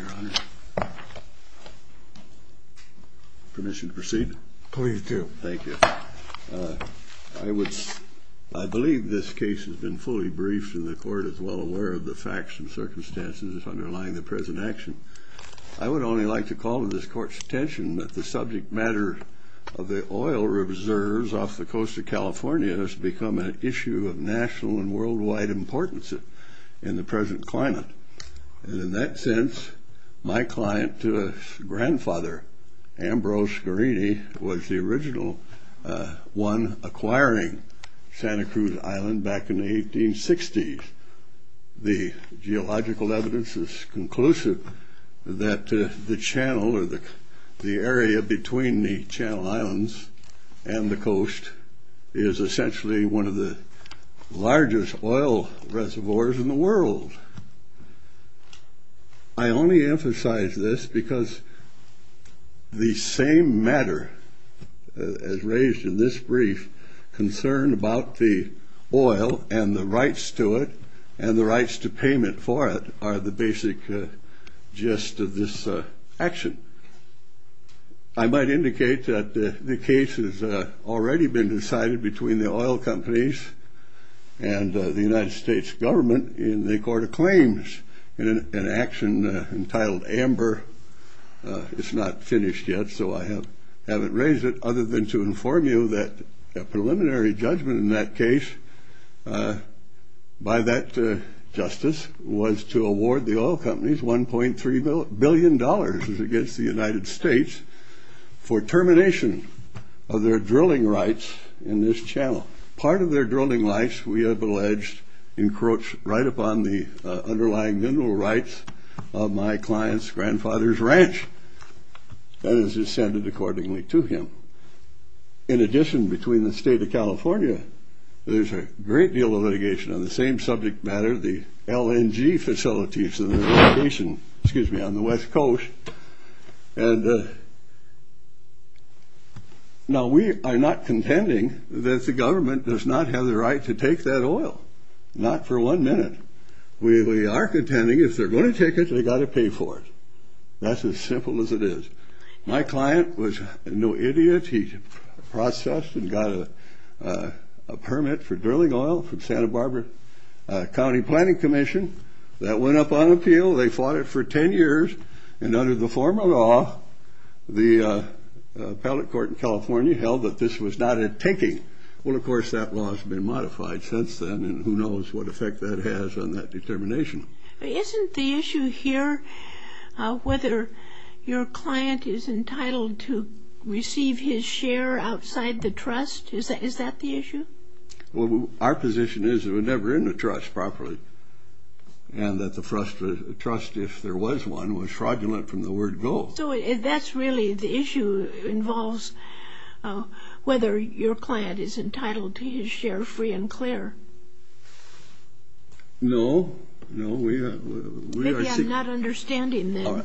I believe this case has been fully briefed and the Court is well aware of the facts and circumstances underlying the present action. I would only like to call to this Court's attention that the subject matter of the oil reserves off the coast of California has become an issue of national and worldwide importance in the present climate. In that sense, my client to his grandfather, Ambrose Gherini, was the original one acquiring Santa Cruz Island back in the 1860s. The geological evidence is conclusive that the channel or the area between the Channel Islands and the coast is essentially one of the largest oil reservoirs in the world. I only emphasize this because the same matter as raised in this brief concern about the oil and the rights to it and the rights to payment for it are the basic gist of this action. I might indicate that the case has already been decided between the oil companies and the United States government in the Court of Claims in an action entitled Amber. It's not finished yet, so I haven't raised it other than to inform you that a preliminary judgment in that case by that justice was to award the oil companies $1.3 billion against the United States for termination of their drilling rights in this channel. Part of their drilling rights, we have alleged, encroach right upon the underlying mineral rights of my client's grandfather's ranch. That is ascended accordingly to him. In addition, between the state of California, there's a great deal of litigation on the same subject matter, the LNG facilities in the location, excuse me, on the west coast. And now we are not contending that the government does not have the right to take that oil, not for one minute. We are contending if they're going to take it, they got to pay for it. That's as simple as it is. My client was no more processed and got a permit for drilling oil from Santa Barbara County Planning Commission. That went up on appeal. They fought it for 10 years. And under the former law, the appellate court in California held that this was not a taking. Well, of course, that law has been modified since then, and who knows what effect that has on that determination. Isn't the issue here whether your client is entitled to receive his share outside the trust? Is that the issue? Well, our position is we're never in the trust properly. And that the trust, if there was one, was fraudulent from the word go. So that's really the issue involves whether your client is entitled to his share free and clear. No, no, we are not understanding the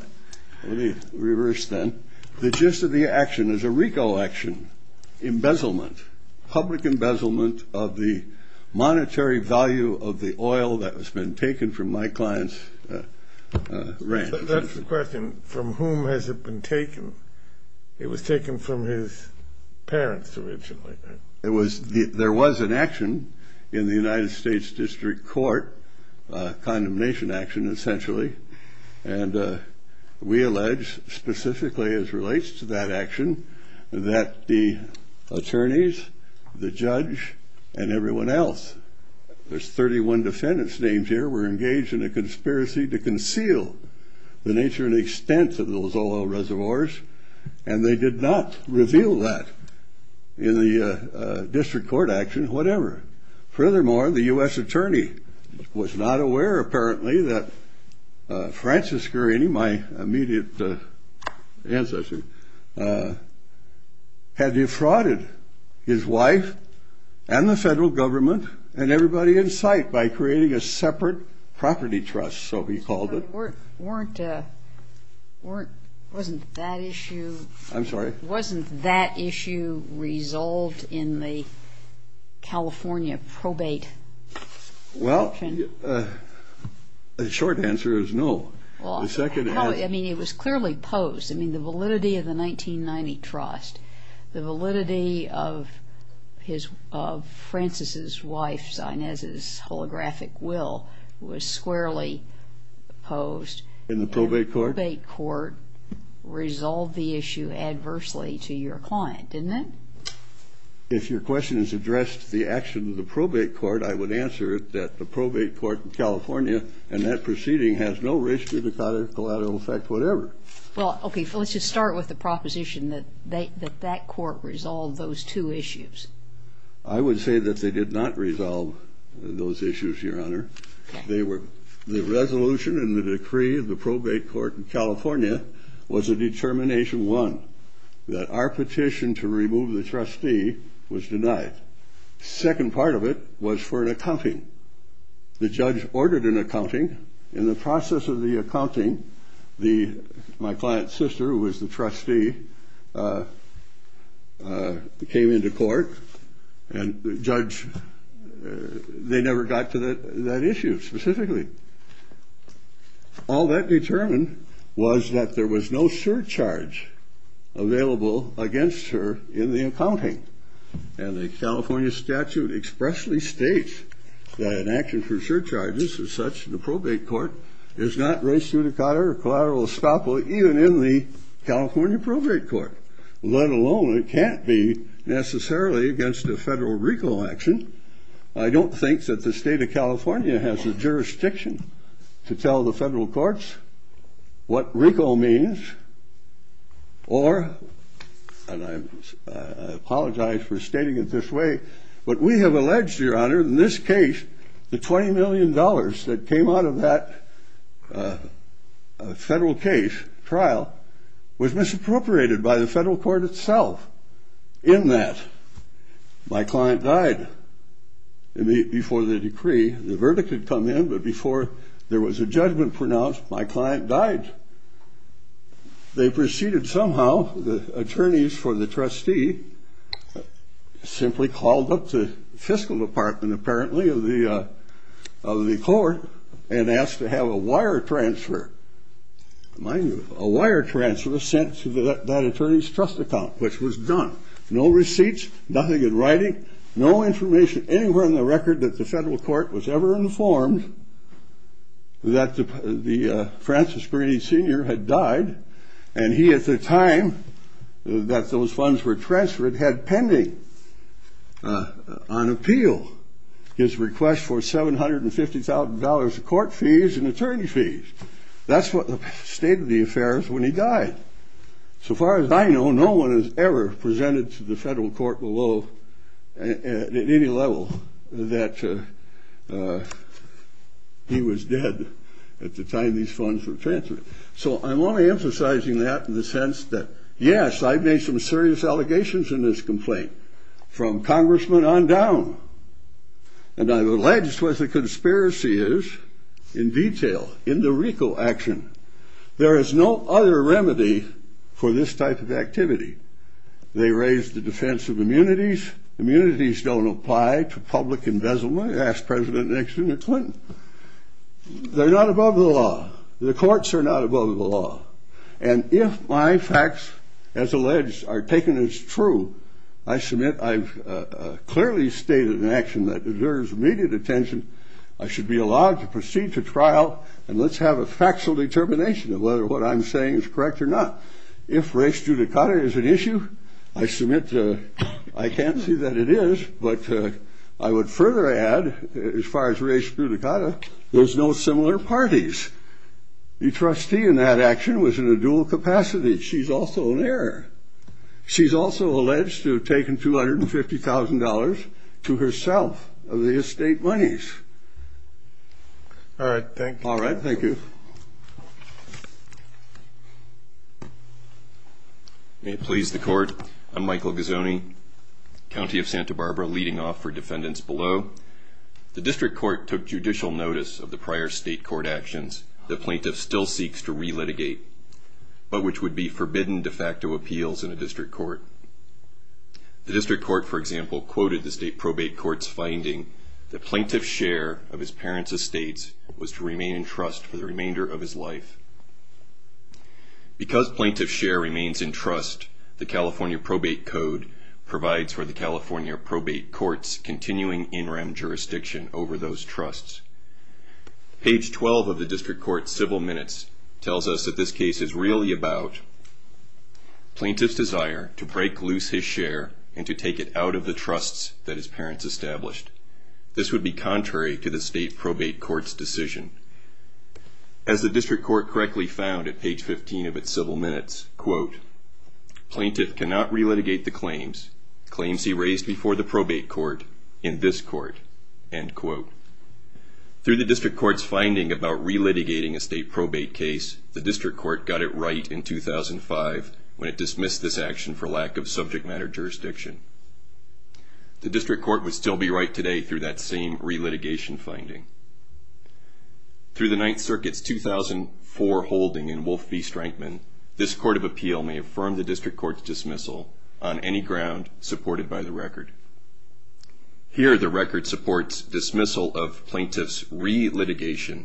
reverse. Then the gist of the action is a RICO action, embezzlement, public embezzlement of the monetary value of the oil that has been taken from my client's rent. That's the question. From whom has it been taken? It was taken from his parents. Originally, it was there was an action in the United States District Court, a condemnation action, essentially. And we allege specifically as relates to that action that the attorneys, the judge and everyone else, there's 31 defendants names here, were engaged in a conspiracy to conceal the nature and extent of those oil assets. Furthermore, the U.S. attorney was not aware, apparently, that Francis Gurney, my immediate ancestor, had defrauded his wife and the federal government and everybody in sight by creating a separate property trust, so he called it. But weren't, wasn't that issue? I'm sorry? Wasn't that issue resolved in the California probate? Well, the short answer is no. Well, I mean, it was clearly posed. I mean, the validity of the 1990 trust, the validity of his, of Francis's wife's, Inez's, holographic will was squarely posed. In the probate court? The probate court resolved the issue adversely to your client, didn't it? If your question is addressed to the action of the collateral effect, whatever. Well, okay, let's just start with the proposition that that court resolved those two issues. I would say that they did not resolve those issues, Your Honor. They were, the resolution and the decree of the probate court in California was a determination, one, that our petition to remove the trustee was the, my client's sister, who was the trustee, came into court and the judge, they never got to that issue specifically. All that determined was that there was no I don't think that the state of California has a jurisdiction to tell the federal courts what RICO means or, and I apologize for stating it this way, but we have alleged, Your Honor, in this case, the $20 million that came out of that federal case, trial, was misappropriated by the federal court itself. In that, my client died. Before the decree, the verdict had come in, but before there was a judgment pronounced, my client died. They proceeded somehow, the attorneys for the trustee simply called up the fiscal department, apparently, of the court and asked to have a wire transfer, a wire transfer sent to that attorney's trust account, which was done. No receipts, nothing in writing, no information anywhere in the record that the federal court was ever informed that the Francis Brady Sr. had died, and he, at the time that those funds were transferred, had pending on appeal his request for $750,000 of court fees and attorney fees. That's what the state of the affair is when he died. So far as I know, no one has ever presented to the federal court below, at any level, that he was dead at the time these funds were transferred. So I'm only emphasizing that in the sense that, yes, I've made some serious allegations in this complaint, from congressman on down, and I've alleged what the conspiracy is in detail, in the RICO action. There is no other remedy for this type of activity. They raised the defense of immunities. Immunities don't apply to public embezzlement, asked President Nixon and Clinton. They're not above the law. The courts are not above the law. And if my facts, as alleged, are taken as true, I submit I've clearly stated an action that deserves immediate attention, I should be allowed to proceed to trial and let's have a factual determination of whether what I'm saying is correct or not. If race judicata is an issue, I submit I can't see that it is, but I would further add, as far as race judicata, there's no similar parties. The trustee in that action was in a dual capacity. She's also an heir. She's also alleged to have taken $250,000 to herself of the estate monies. All right. Thank you. All right. Thank you. Because plaintiff's share remains in trust, the California probate code provides for the California probate courts continuing in rem jurisdiction over those trusts. Page 12 of the district court's civil minutes tells us that this case is really about plaintiff's desire to break loose his share and to take it out of the trusts that his parents established. This would be contrary to the state probate court's decision. As the district court correctly found at page 15 of its civil minutes, quote, plaintiff cannot relitigate the claims, claims he raised before the probate court in this court, end quote. Through the district court's finding about relitigating a state probate case, the district court got it right in 2005 when it dismissed this action for lack of subject matter jurisdiction. The district court would still be right today through that same relitigation finding. Through the Ninth Circuit's 2004 holding in Wolf v. Strankman, this court of appeal may affirm the district court's dismissal on any ground supported by the record. Here the record supports dismissal of plaintiff's relitigation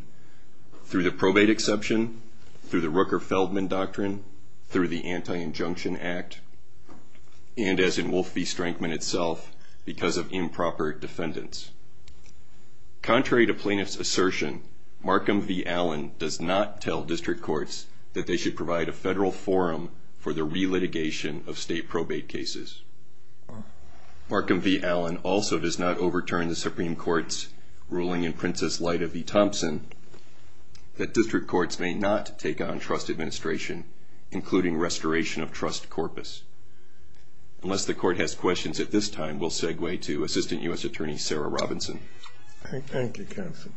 through the probate exception, through the Rooker-Feldman Doctrine, through the Anti-Injunction Act, and as in Wolf v. Strankman itself, because of improper defendants. Contrary to plaintiff's assertion, Markham v. Allen does not tell district courts that they should provide a federal forum for the relitigation of state probate cases. Markham v. Allen also does not overturn the Supreme Court's ruling in Princess Lita v. Thompson that district courts may not take on trust administration, including restoration of trust corpus. Unless the court has questions at this time, we'll segue to Assistant U.S. Attorney Sarah Robinson. Thank you, counsel.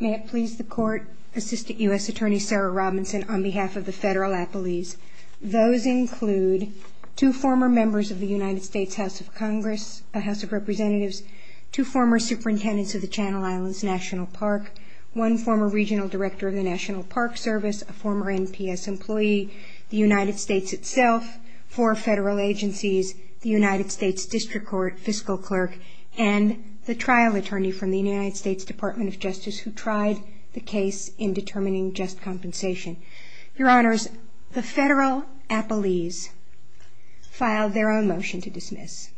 May it please the court, Assistant U.S. Attorney Sarah Robinson, on behalf of the federal appellees. Those include two former members of the United States House of Congress, House of Representatives, two former superintendents of the Channel Islands National Park, one former regional director of the National Park Service, a former NPS employee, the United States itself, four federal agencies, the United States District Court, fiscal clerks, and the U.S. Department of Justice. Thank you. The federal appellees filed their own motion to dismiss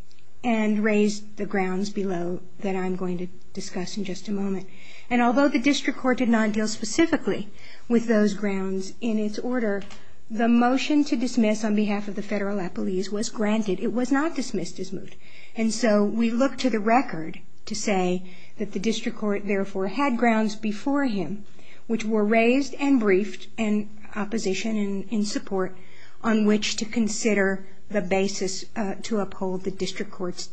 and raised the grounds below that I'm going to discuss in just a moment. And although the district court did not deal specifically with those grounds in its order, the motion to dismiss on behalf of the federal appellees was granted. It was not dismissed as moot. And so we look to the record to say that the district court therefore had grounds before him which were raised and briefed in opposition and support on which to consider the basis to uphold the district court's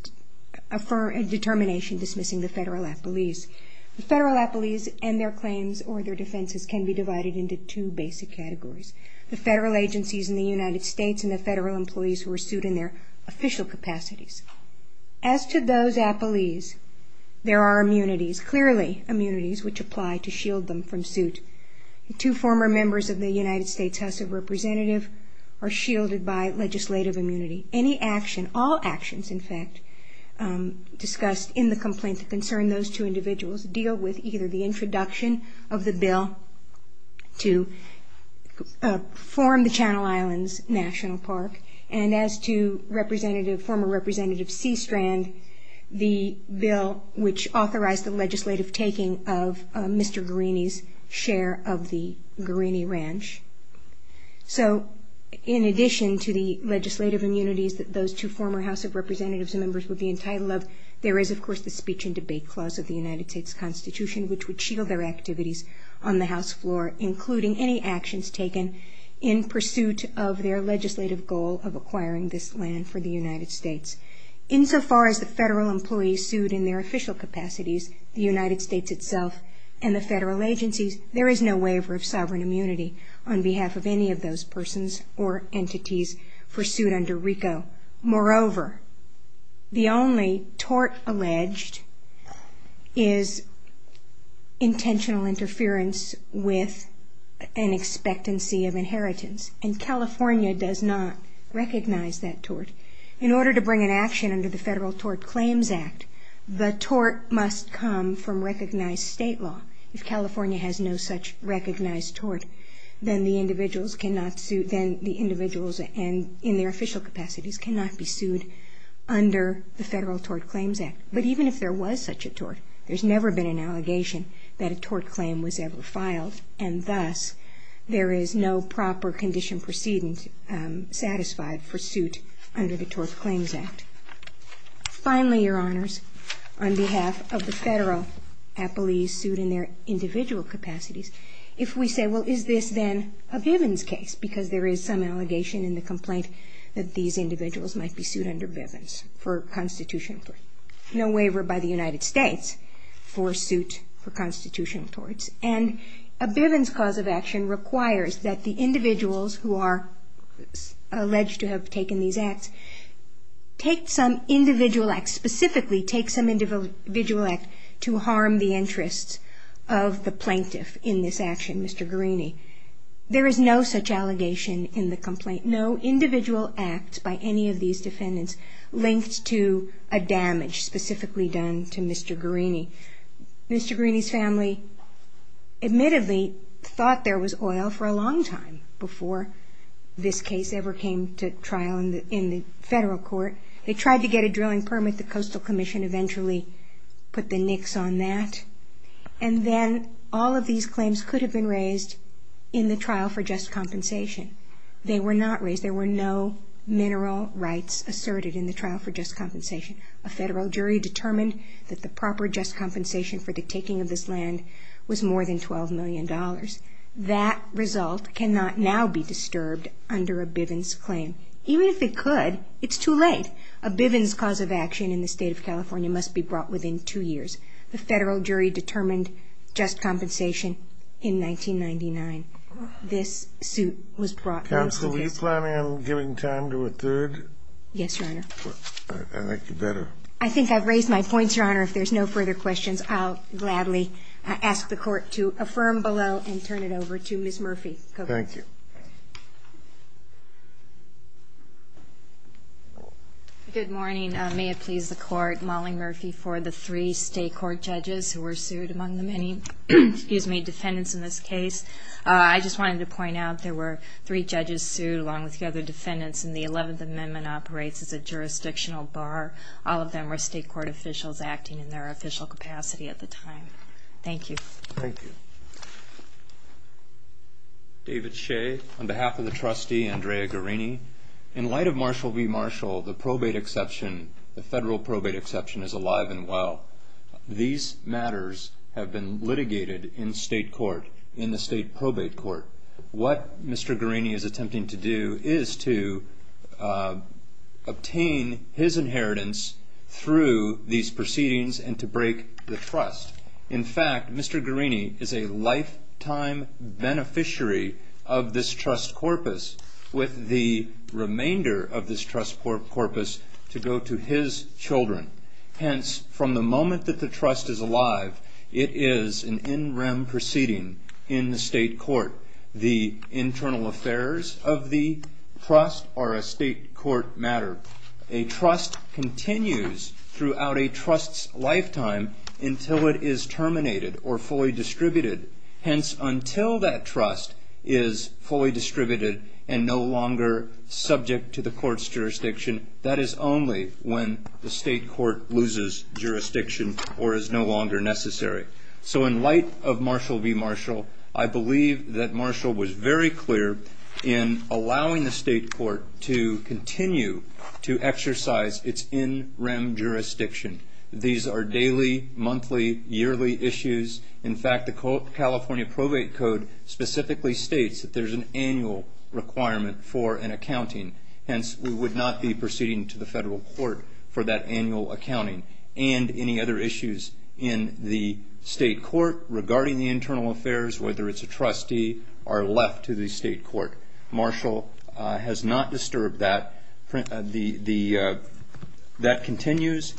determination dismissing the federal appellees. The federal appellees and their claims or their defenses can be divided into two basic categories. The federal agencies in the United States and the federal employees who are sued in their official capacities. As to those appellees, there are immunities, clearly immunities, which apply to shield them from suit. Two former members of the United States House of Representatives are shielded by legislative immunity. All actions, in fact, discussed in the complaint that concern those two individuals deal with either the introduction of the bill to form the Channel Islands National Park and as to former Representative C. Strand, the bill which authorized the legislative taking of Mr. Guarini's share of the Guarini Ranch. So in addition to the legislative immunities that those two former House of Representatives members would be entitled of, there is of course the speech and debate clause of the United States Constitution which would shield their activities on the House floor, including any actions taken in pursuit of their legislative goal of acquiring this land for the United States. Insofar as the federal employees sued in their official capacities, the United States itself and the federal agencies, there is no waiver of sovereign immunity on behalf of any of those persons or entities pursued under RICO. Moreover, the only tort alleged is intentional interference with an expectancy of inheritance, and California does not recognize that tort. In order to bring an action under the Federal Tort Claims Act, the tort must come from recognized state law. If California has no such recognized tort, then the individuals cannot sue, then the individuals in their official capacities cannot be sued under the Federal Tort Claims Act. But even if there was such a tort, there's never been an allegation that a tort claim was ever filed, and thus there is no proper condition proceeding satisfied for suit under the Tort Claims Act. Finally, Your Honors, on behalf of the federal employees sued in their individual capacities, if we say, well, is this then a Bivens case, because there is some allegation in the complaint that these individuals might be sued under Bivens for constitutional tort. There is no waiver by the United States for suit for constitutional torts. And a Bivens cause of action requires that the individuals who are alleged to have taken these acts take some individual act, specifically take some individual act to harm the interests of the plaintiff in this action, Mr. Garini. There is no such allegation in the complaint, no individual act by any of these defendants linked to a damage specifically done to Mr. Garini. Mr. Garini's family, admittedly, thought there was oil for a long time before this case ever came to trial in the federal court. They tried to get a drilling permit, the Coastal Commission eventually put the nicks on that, and then all of these claims could have been raised in the federal court. But they were not raised in the trial for just compensation. They were not raised, there were no mineral rights asserted in the trial for just compensation. A federal jury determined that the proper just compensation for the taking of this land was more than $12 million. That result cannot now be disturbed under a Bivens claim. Even if it could, it's too late. A Bivens cause of action in the state of California must be brought within two years. The federal jury determined just compensation in 1999. This suit was brought in. Counsel, are you planning on giving time to a third? Yes, Your Honor. I think you better. I think I've raised my points, Your Honor. If there's no further questions, I'll gladly ask the court to affirm below and turn it over to Ms. Murphy. Thank you. Good morning. May it please the court, Molly Murphy, for the three state court judges who were sued, among the many defendants in this case. I would like to begin by saying that I am not in favor of this suit. I would like to ask the court to affirm below and turn it over to Ms. Murphy. Thank you. I just wanted to point out there were three judges sued, along with the other defendants, and the 11th Amendment operates as a jurisdictional bar. All of them were state court officials acting in their official capacity at the time. Thank you. David Shea, on behalf of the trustee, Andrea Guerini. In light of Marshall v. Marshall, the federal probate exception is alive and well. These matters have been litigated in state court, in the state probate court. What Mr. Guerini is attempting to do is to obtain his inheritance through these proceedings and to break the trust. In fact, Mr. Guerini is a lifetime beneficiary of this trust corpus, with the remainder of this trust corpus to go to his children. Hence, from the moment that the trust is alive, it is an in rem proceeding in the state court. The internal affairs of the trust are a state court matter. A trust continues throughout a trust's lifetime until it is terminated or fully distributed. Hence, until that trust is fully distributed and no longer subject to the court's jurisdiction, that is only when the state court loses jurisdiction or is no longer necessary. So, in light of Marshall v. Marshall, I believe that Marshall was very clear in allowing the state court to continue to exercise its in rem jurisdiction. These are daily, monthly, yearly issues. In fact, the California Probate Code specifically states that there is an annual requirement for an accounting. Hence, we would not be proceeding to the federal court for that annual accounting and any other issues in the in rem jurisdiction. State court regarding the internal affairs, whether it's a trustee, are left to the state court. Marshall has not disturbed that. That continues.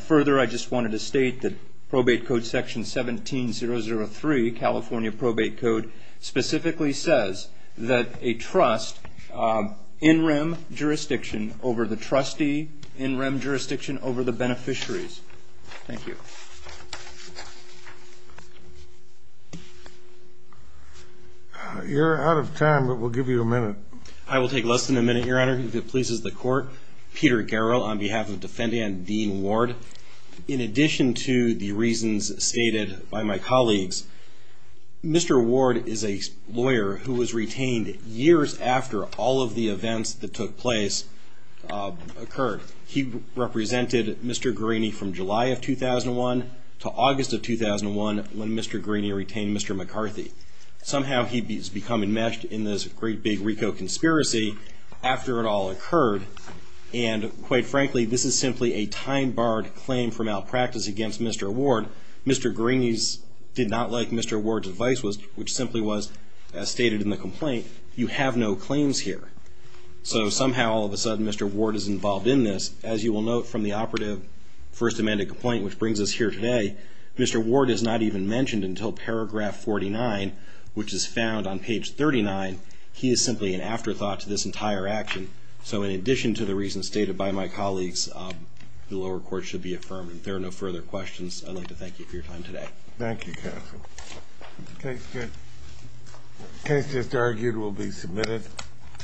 Further, I just wanted to state that Probate Code Section 17-003, California Probate Code, specifically says that a trust in rem jurisdiction over the trustee, in rem jurisdiction over the beneficiaries. Thank you. You're out of time, but we'll give you a minute. I will take less than a minute, Your Honor. If it pleases the court, Peter Garrow on behalf of Defendant Dean Ward. In addition to the reasons stated by my colleagues, Mr. Ward is a lawyer who was retained years after all of the events that took place occurred. He represented Mr. Greeney from July of 2001 to August of 2001 when Mr. Greeney retained Mr. McCarthy. Somehow, he's become enmeshed in this great big RICO conspiracy after it all occurred, and quite frankly, this is simply a time-barred claim for malpractice against Mr. Ward. Mr. Greeney did not like Mr. Ward's advice, which simply was, as stated in the complaint, you have no claims here. Somehow, all of a sudden, Mr. Ward is involved in this. As you will note from the operative First Amendment complaint, which brings us here today, Mr. Ward is not even mentioned until paragraph 49, which is found on page 39. He is simply an afterthought to this entire action. In addition to the reasons stated by my colleagues, the lower court should be affirmed. If there are no further questions, I'd like to thank you for your time today. Thank you, counsel. The case just argued will be submitted.